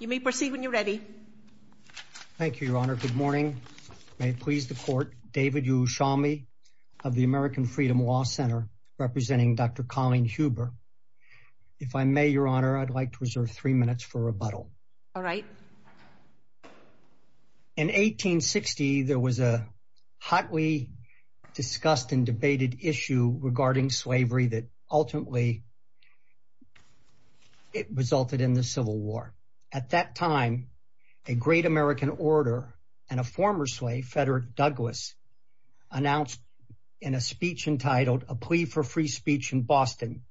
You may proceed when you're ready. Thank you, Your Honor. Good morning. May it please the Court. David Ushami of the American Freedom Law Center, representing Dr. Colleen Huber. If I may, Your Honor, I'd like to reserve three minutes for rebuttal. All right. In 1860, there was a hotly discussed and debated issue regarding slavery that ultimately resulted in the Civil War. At that time, a great American orator and a former slave, Frederick Douglass, announced in a speech entitled A Plea for Free Speech in Boston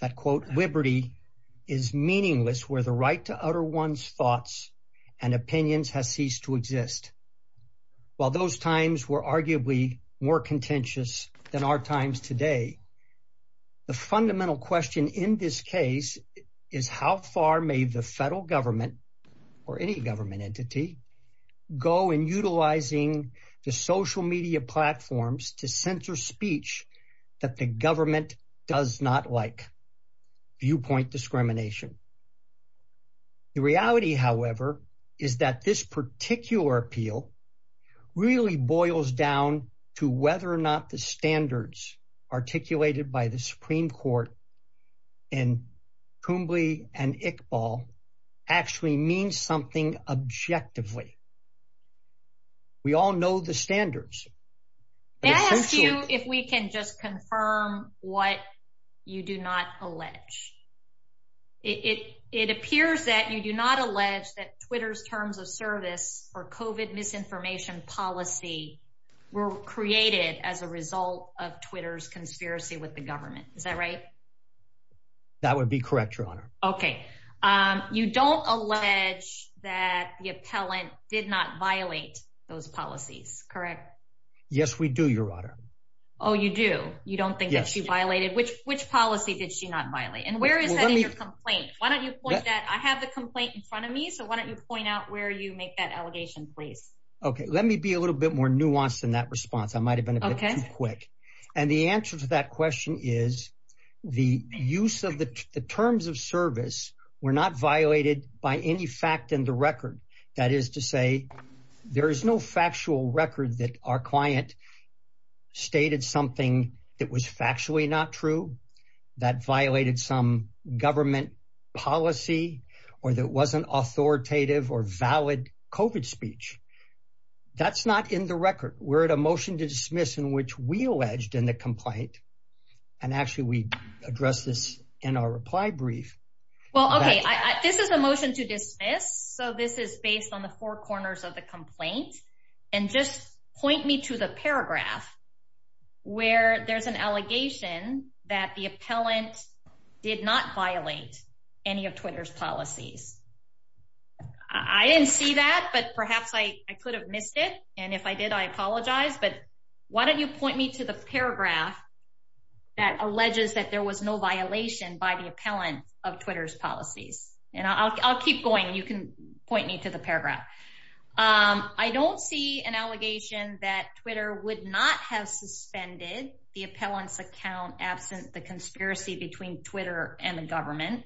that, quote, liberty is meaningless where the right to utter one's thoughts and opinions has ceased to exist. While those times were arguably more contentious than our times today, the fundamental question in this case is how far may the federal government or any government entity go in utilizing the social media platforms to censor speech that the government does not like? Viewpoint discrimination. The reality, however, is that this particular appeal really boils down to whether or not the standards articulated by the Supreme Court and Kumbli and Iqbal actually mean something objectively. We all know the standards. May I ask you if we can just confirm what you do not allege? It appears that you do not allege that Twitter's terms of service for COVID misinformation policy were created as a result of Twitter's conspiracy with the government. Is that right? That would be correct, Your Honor. Okay. You don't allege that the appellant did not violate those policies, correct? Yes, we do, Your Honor. Oh, you do? You don't think that she violated? Which policy did she not violate? And where is that in your complaint? I have the complaint in front of me, so why don't you point out where you make that allegation, please? Okay, let me be a little bit more nuanced in that response. I might have been a bit too quick. And the answer to that question is the use of the terms of service were not violated by any fact in the record. That is to say, there is no factual record that our client stated something that was factually not true, that violated some government policy, or that wasn't authoritative or valid COVID speech. That's not in the record. We're at a motion to dismiss in which we alleged in the complaint. And actually, we addressed this in our reply brief. Well, okay, this is a motion to dismiss. So this is based on the four corners of the complaint. And just point me to the paragraph where there's an allegation that the appellant did not violate any of Twitter's policies. I didn't see that, but perhaps I could have missed it. And if I did, I apologize. But why don't you point me to the paragraph that alleges that there was no violation by the appellant of Twitter's policies. And I'll keep going, you can point me to the paragraph. I don't see an allegation that Twitter would not have suspended the appellant's account absent the conspiracy between Twitter and the government.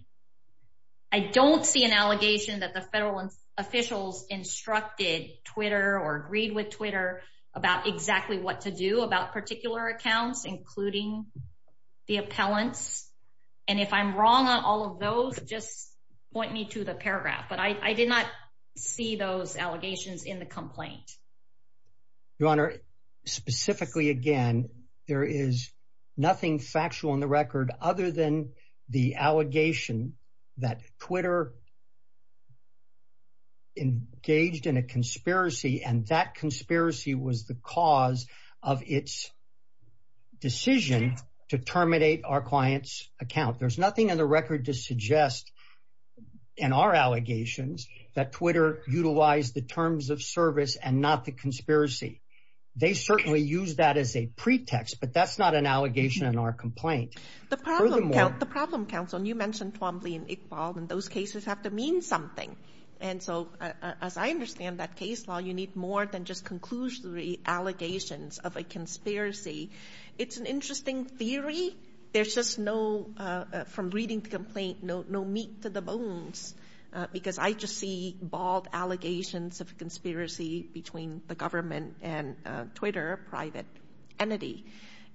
I don't see an allegation that the federal officials instructed Twitter or agreed with Twitter about exactly what to do about particular accounts, including the appellants. And if I'm I did not see those allegations in the complaint. Your Honor, specifically, again, there is nothing factual on the record other than the allegation that Twitter engaged in a conspiracy and that conspiracy was the cause of its decision to terminate our client's account. There's nothing on the record to suggest in our allegations that Twitter utilized the terms of service and not the conspiracy. They certainly use that as a pretext, but that's not an allegation in our complaint. The problem, counsel, and you mentioned Twombly and Iqbal, and those cases have to mean something. And so, as I understand that case law, you need more than just conclusory allegations of a to the bones because I just see bald allegations of a conspiracy between the government and Twitter, a private entity.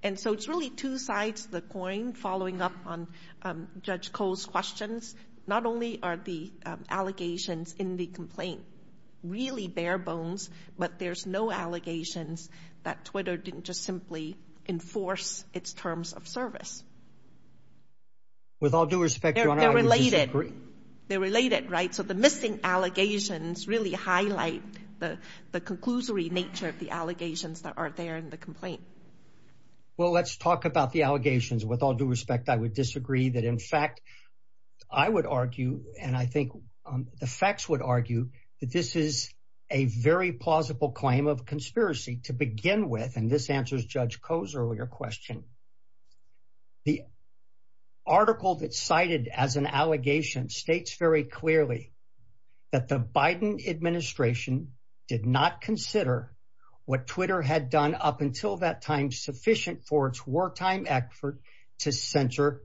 And so, it's really two sides of the coin following up on Judge Cole's questions. Not only are the allegations in the complaint really bare bones, but there's no allegations that Twitter didn't just simply enforce its terms of service. With all due respect, Your Honor, I would disagree. They're related. They're related, right? So, the missing allegations really highlight the conclusory nature of the allegations that are there in the complaint. Well, let's talk about the allegations. With all due respect, I would disagree that, in fact, I would argue, and I think the facts would argue, that this is a very plausible claim of conspiracy to begin with, and this answers Judge Cole's question. The article that's cited as an allegation states very clearly that the Biden administration did not consider what Twitter had done up until that time sufficient for its wartime effort to censor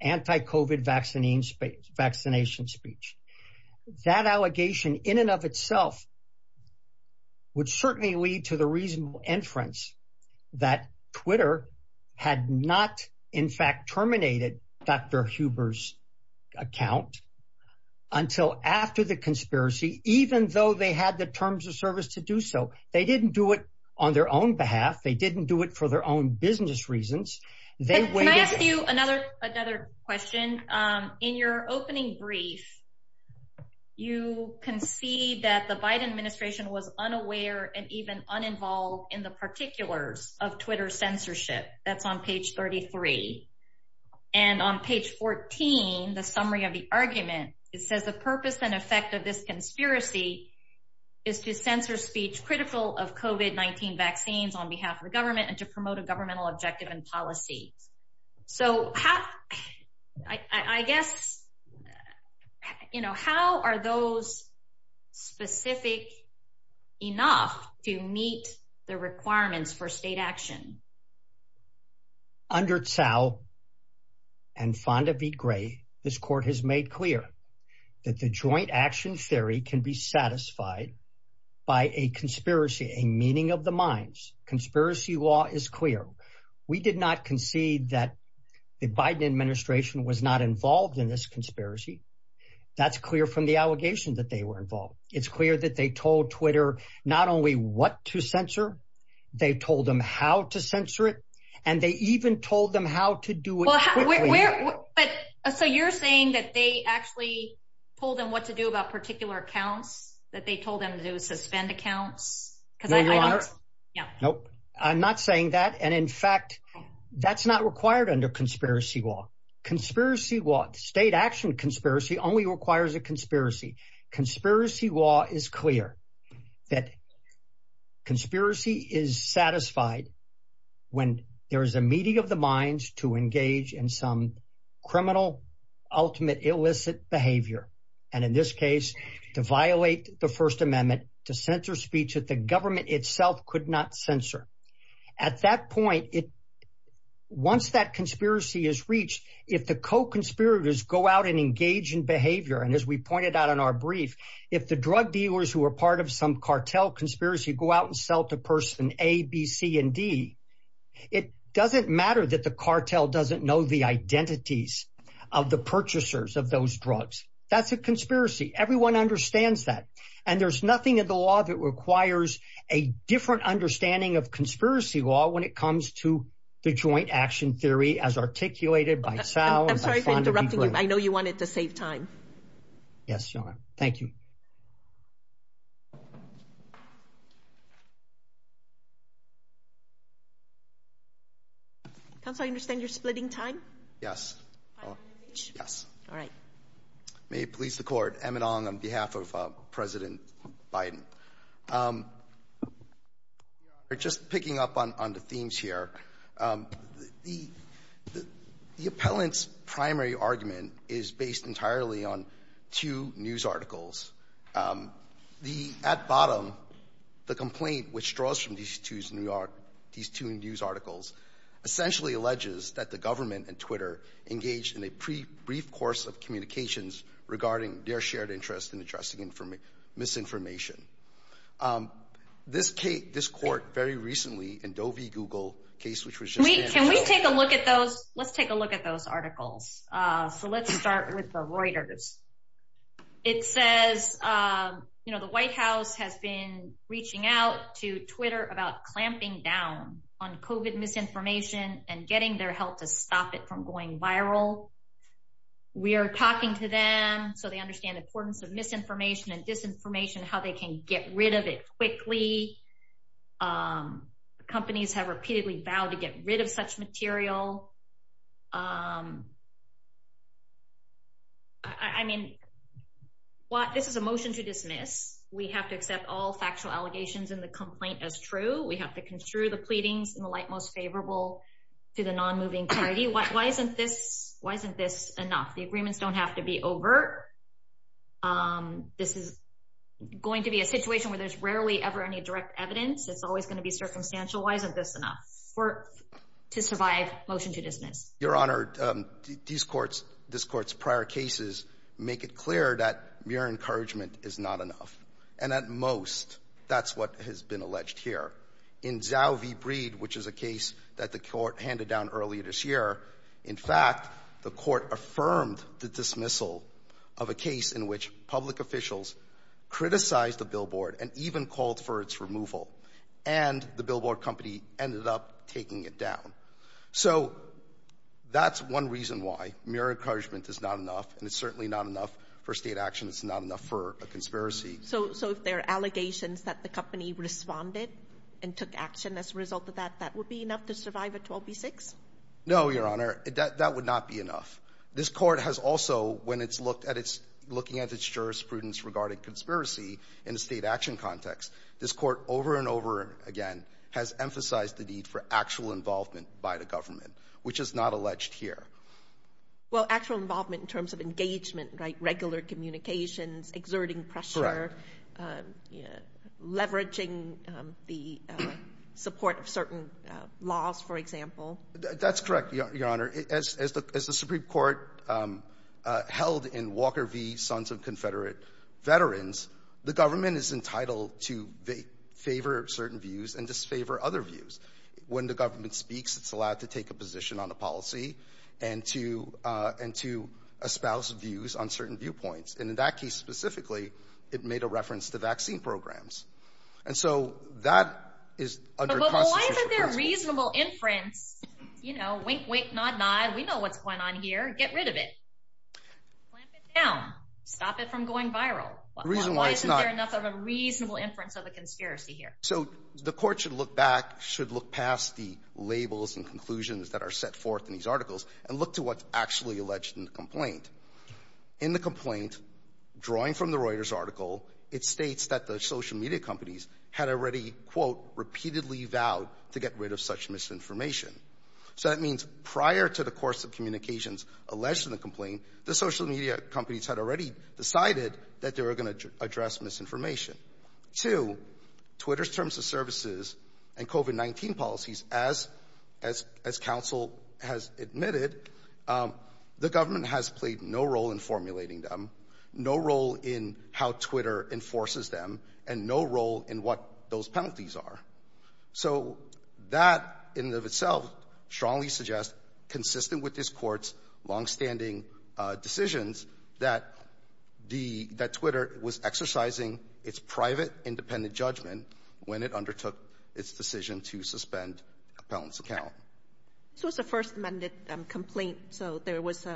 anti-COVID vaccination speech. That allegation in and of itself would certainly lead to the reasonable inference that Twitter had not, in fact, terminated Dr. Huber's account until after the conspiracy, even though they had the terms of service to do so. They didn't do it on their own behalf. They didn't do it for their own business reasons. Can I ask you another question? In your opening brief, you concede that the Biden administration was unaware and even uninvolved in the particulars of Twitter censorship. That's on page 33. And on page 14, the summary of the argument, it says the purpose and effect of this conspiracy is to censor speech critical of COVID-19 vaccines on behalf of the government and to promote a governmental objective and policy. So I guess, you know, how are those specific enough to meet the requirements for state action? Under Tsao and Fonda v. Gray, this court has made clear that the joint action theory can be is clear. We did not concede that the Biden administration was not involved in this conspiracy. That's clear from the allegation that they were involved. It's clear that they told Twitter not only what to censor, they told them how to censor it, and they even told them how to do it. So you're saying that they actually told them what to do about particular accounts, that they told them to suspend accounts? No, Your Honor. I'm not saying that. And in fact, that's not required under conspiracy law. State action conspiracy only requires a conspiracy. Conspiracy law is clear that conspiracy is satisfied when there is a meeting of the minds to engage in some criminal, ultimate, illicit behavior. And in this case, to violate the First Amendment, to censor speech that the government itself could not censor. At that point, once that conspiracy is reached, if the co-conspirators go out and engage in behavior, and as we pointed out in our brief, if the drug dealers who are part of some cartel conspiracy go out and sell to person A, B, C, and D, it doesn't matter that the cartel doesn't know the identities of the purchasers of those drugs. That's a conspiracy. Everyone understands that. And there's nothing in the law that requires a different understanding of conspiracy law when it comes to the joint action theory as articulated by Sal. I'm sorry for interrupting you. I know wanted to save time. Yes, Your Honor. Thank you. Counsel, I understand you're splitting time? Yes. Yes. All right. May it please the Court. Emmett Ong on behalf of President Biden. Your Honor, just picking up on the themes here, the appellant's primary argument is based entirely on two news articles. The at bottom, the complaint which draws from these two news articles essentially alleges that the government and Twitter engaged in a brief course of communications regarding their shared interest in addressing misinformation. This case, this court very recently in Doe v. Google case which was just- Can we take a look at those? Let's take a look at those articles. So let's start with the Reuters. It says, you know, the White House has been reaching out to Twitter about clamping down on COVID misinformation and getting their help to stop it from going viral. We are talking to them so they understand the importance of misinformation and disinformation, how they can get rid of it quickly. Companies have repeatedly vowed to get rid of such material. I mean, this is a motion to dismiss. We have to accept all factual allegations in the complaint as true. We have to construe the pleadings in the light most favorable to the non-moving party. Why isn't this enough? The agreements don't have to be overt. This is going to be a situation where there's rarely ever any direct evidence. It's always going to be circumstantial. Why isn't this enough to survive motion to dismiss? Your Honor, this court's prior cases make it clear that mere encouragement is not enough. And at most, that's what has been alleged here. In Zhao v. Breed, which is a case that the court handed down earlier this year, in fact, the court affirmed the dismissal of a case in which public officials criticized the billboard and even called for its removal. And the billboard company ended up taking it down. So that's one reason why mere encouragement is not enough. And it's certainly not enough for state action. It's not enough for a conspiracy. So if there are allegations that the company responded and took action as a result of that, that would be enough to survive a 12b-6? No, Your Honor. That would not be enough. This court has also, when it's looked at its – looking at its jurisprudence regarding conspiracy in a state action context, this court over and over again has emphasized the need for actual involvement by the government, which is not alleged here. Well, actual involvement in terms of engagement, right, regular communications, exerting pressure, leveraging the support of certain government agencies, laws, for example? That's correct, Your Honor. As the Supreme Court held in Walker v. Sons of Confederate Veterans, the government is entitled to favor certain views and disfavor other views. When the government speaks, it's allowed to take a position on a policy and to espouse views on certain viewpoints. And in that case specifically, it made a reference to vaccine programs. And so that is under constitutional control. But why isn't there reasonable inference, you know, wink, wink, nod, nod, we know what's going on here, get rid of it, clamp it down, stop it from going viral? Why isn't there enough of a reasonable inference of a conspiracy here? So the court should look back, should look past the labels and conclusions that are set forth in these articles and look to what's actually alleged in the complaint. In the complaint, drawing from the Reuters article, it states that the social media companies had already, quote, repeatedly vowed to get rid of such misinformation. So that means prior to the course of communications alleged in the complaint, the social media companies had already decided that they were going to address misinformation. Two, Twitter's terms of services and COVID-19 policies, as counsel has admitted, the government has played no role in formulating them, no role in how Twitter enforces them, and no role in what those penalties are. So that in and of itself strongly suggests, consistent with this court's longstanding decisions, that Twitter was exercising its private, independent judgment when it undertook its decision to suspend a penalty account. This was the first amended complaint, so there was,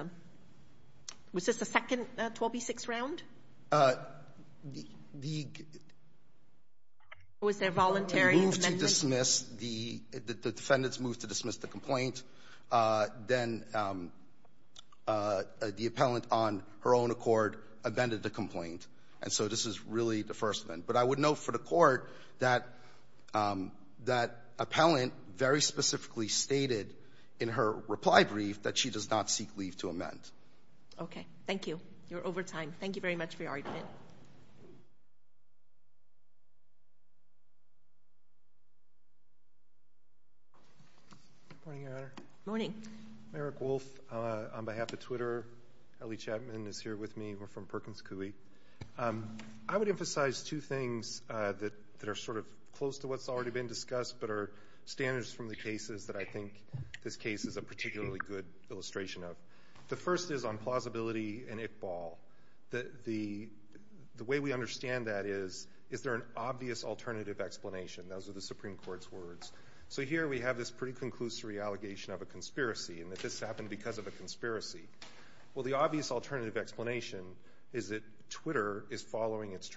was this the second 12b-6 round? The, the... Or was there a voluntary amendment? ...move to dismiss the, the defendant's move to dismiss the complaint, then the appellant on her own accord amended the complaint. And so this is really the first amendment. But I would note for the court that, that appellant very specifically stated in her reply brief that she does not seek leave to amend. Okay. Thank you. You're over time. Thank you very much for your argument. Morning, Your Honor. Morning. Merrick Wolfe on behalf of Twitter. Ellie Chapman is here with me. We're from Perkins Coie. I would emphasize two things that, that are sort of close to what's already been discussed, but are standards from the cases that I think this case is a particularly good illustration of. The first is on plausibility and Iqbal. The, the, the way we understand that is, is there an obvious alternative explanation? Those are the Supreme Court's words. So here we have this pretty conclusory allegation of a conspiracy, and that this happened because of a conspiracy. Well, the obvious alternative explanation is that Twitter is following its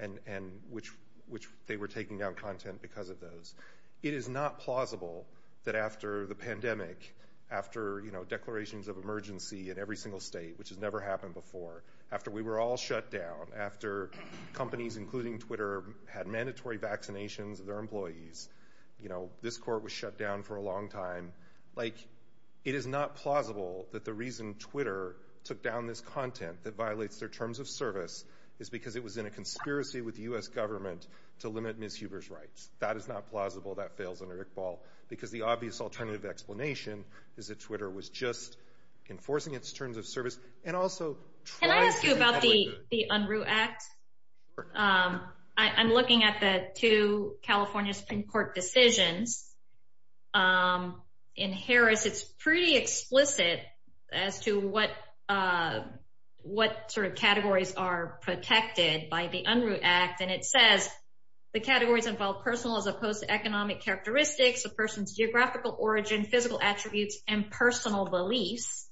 and, and which, which they were taking down content because of those. It is not plausible that after the pandemic, after, you know, declarations of emergency in every single state, which has never happened before, after we were all shut down, after companies, including Twitter, had mandatory vaccinations of their employees, you know, this court was shut down for a long time. Like, it is not plausible that the reason Twitter took down this content that was in a conspiracy with the U.S. government to limit Ms. Huber's rights. That is not plausible. That fails under Iqbal, because the obvious alternative explanation is that Twitter was just enforcing its terms of service and also trying to- Can I ask you about the, the Unruh Act? I, I'm looking at the two California Supreme Court decisions. In Harris, it's pretty explicit as to what, what sort of categories are protected by the Unruh Act. And it says the categories involve personal as opposed to economic characteristics, a person's geographical origin, physical attributes, and personal beliefs.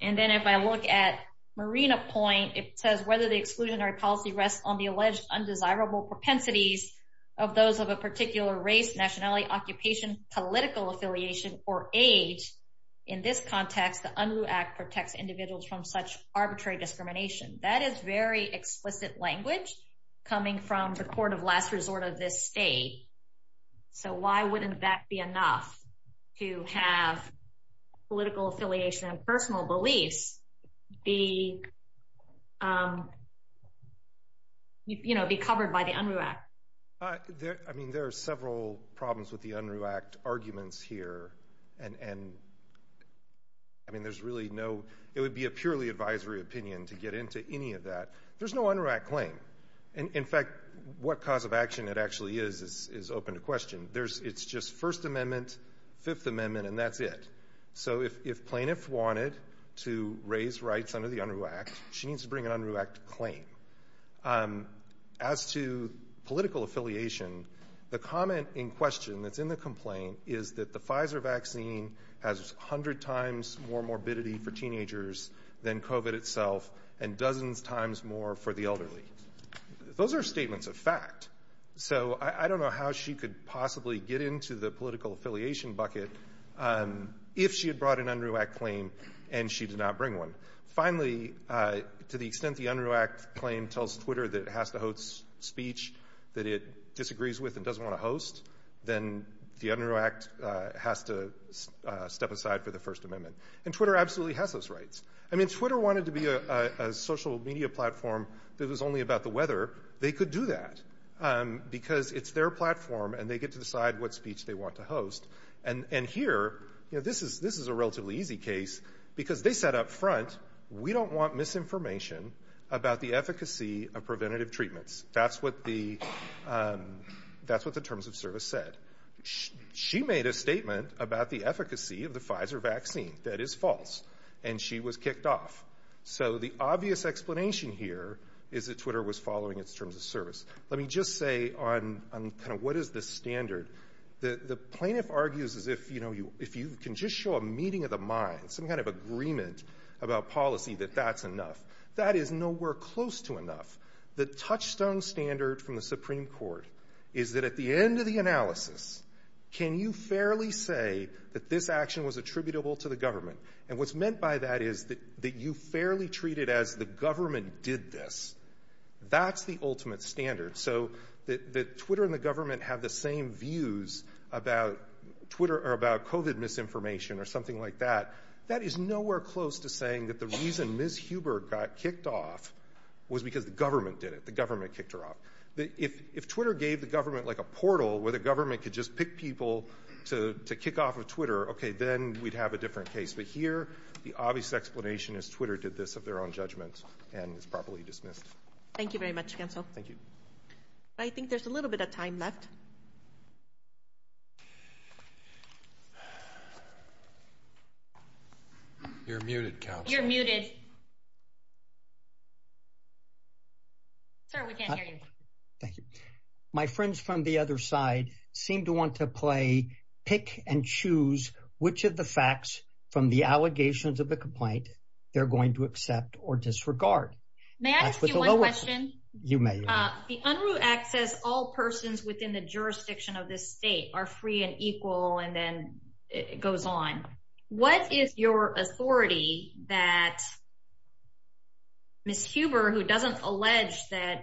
And then if I look at Marina Point, it says whether the exclusionary policy rests on the alleged undesirable propensities of those of a particular race, nationality, occupation, political affiliation, or age. In this context, the Unruh Act protects individuals from such arbitrary discrimination. That is very explicit language coming from the court of last resort of this state. So why wouldn't that be enough to have political affiliation and personal beliefs be, um, you know, be covered by the Unruh Act? I mean, there are several problems with the Unruh Act arguments here. And, and, I mean, there's really no, it would be a purely advisory opinion to get into any of that. There's no Unruh Act claim. And in fact, what cause of action it actually is, is open to question. There's, it's just First Amendment, Fifth Amendment, and that's it. So if, if plaintiffs wanted to raise rights under the Unruh Act, she needs to bring an Unruh Act claim. As to political affiliation, the comment in question that's in the complaint is that the Pfizer vaccine has 100 times more morbidity for teenagers than COVID itself and dozens times more for the elderly. Those are statements of fact. So I don't know how she could possibly get into the political affiliation bucket if she had brought an Unruh Act claim and she did not bring one. Finally, to the extent the Unruh Act claim tells Twitter that it has to host speech that it disagrees with and doesn't want to host, then the Unruh Act has to step aside for the First Amendment. And Twitter absolutely has those rights. I mean, Twitter wanted to be a, a social media platform that was only about the weather. They could do that because it's their platform and they get to decide what speech they want to host. And, and here, you know, this is, this is a relatively easy case because they said up front, we don't want misinformation about the efficacy of preventative treatments. That's what the, that's what the terms of service said. She made a statement about the efficacy of the Pfizer vaccine that is false and she was kicked off. So the obvious explanation here is that Twitter was following its terms of service. Let me just say on, on kind of what is the standard. The, the plaintiff argues as if, you know, you, if you can just show a meeting of the mind, some kind of agreement about policy that that's enough. That is nowhere close to enough. The touchstone standard from the Supreme Court is that at the end of the analysis, can you fairly say that this action was attributable to the government? And what's meant by that is that, that you fairly treat it as the government did this. That's the ultimate standard. So that, that Twitter and the government have the same views about Twitter or about COVID misinformation or something like that. That is nowhere close to saying that the reason Ms. Huber got kicked off was because the government did it. The government kicked her off. The, if, if Twitter gave the government like a portal where the government could just pick people to, to kick off of Twitter, okay, then we'd have a different case. But here, the obvious explanation is Twitter did this of their own judgment and is properly dismissed. Thank you very much, counsel. Thank you. I think there's a little bit of time left. You're muted, counsel. You're muted. Sir, we can't hear you. Thank you. My friends from the other side seem to want to play, and choose, which of the facts from the allegations of the complaint they're going to accept or disregard. May I ask you one question? You may. The Unruh Act says all persons within the jurisdiction of this state are free and equal, and then it goes on. What is your authority that Ms. Huber, who doesn't allege that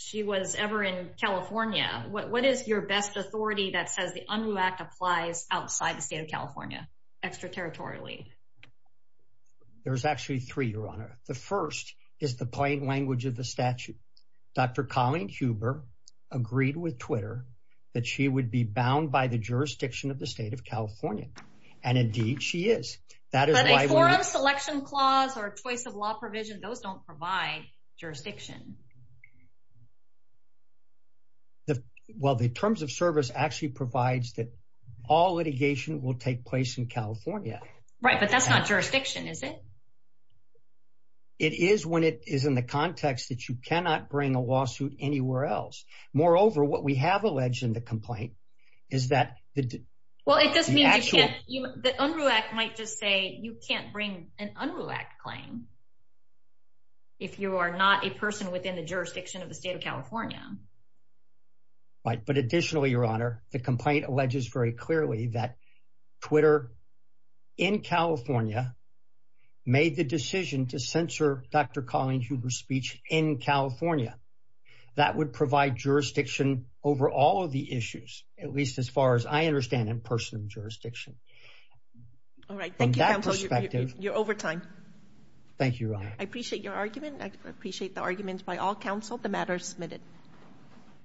she was ever in California, what, is your best authority that says the Unruh Act applies outside the state of California, extraterritorially? There's actually three, Your Honor. The first is the plain language of the statute. Dr. Colleen Huber agreed with Twitter that she would be bound by the jurisdiction of the state of California, and indeed she is. But a forum selection clause or a choice of terms of service actually provides that all litigation will take place in California. Right, but that's not jurisdiction, is it? It is when it is in the context that you cannot bring a lawsuit anywhere else. Moreover, what we have alleged in the complaint is that... The Unruh Act might just say you can't bring an Unruh Act claim if you are not a person within the jurisdiction of the state of California. Right, but additionally, Your Honor, the complaint alleges very clearly that Twitter in California made the decision to censor Dr. Colleen Huber's speech in California. That would provide jurisdiction over all of the issues, at least as far as I understand, in personal jurisdiction. All right, thank you, counsel. You're over time. Thank you, Your Honor. I appreciate your argument. I appreciate the arguments by all counsel. The matter is submitted. Thank you.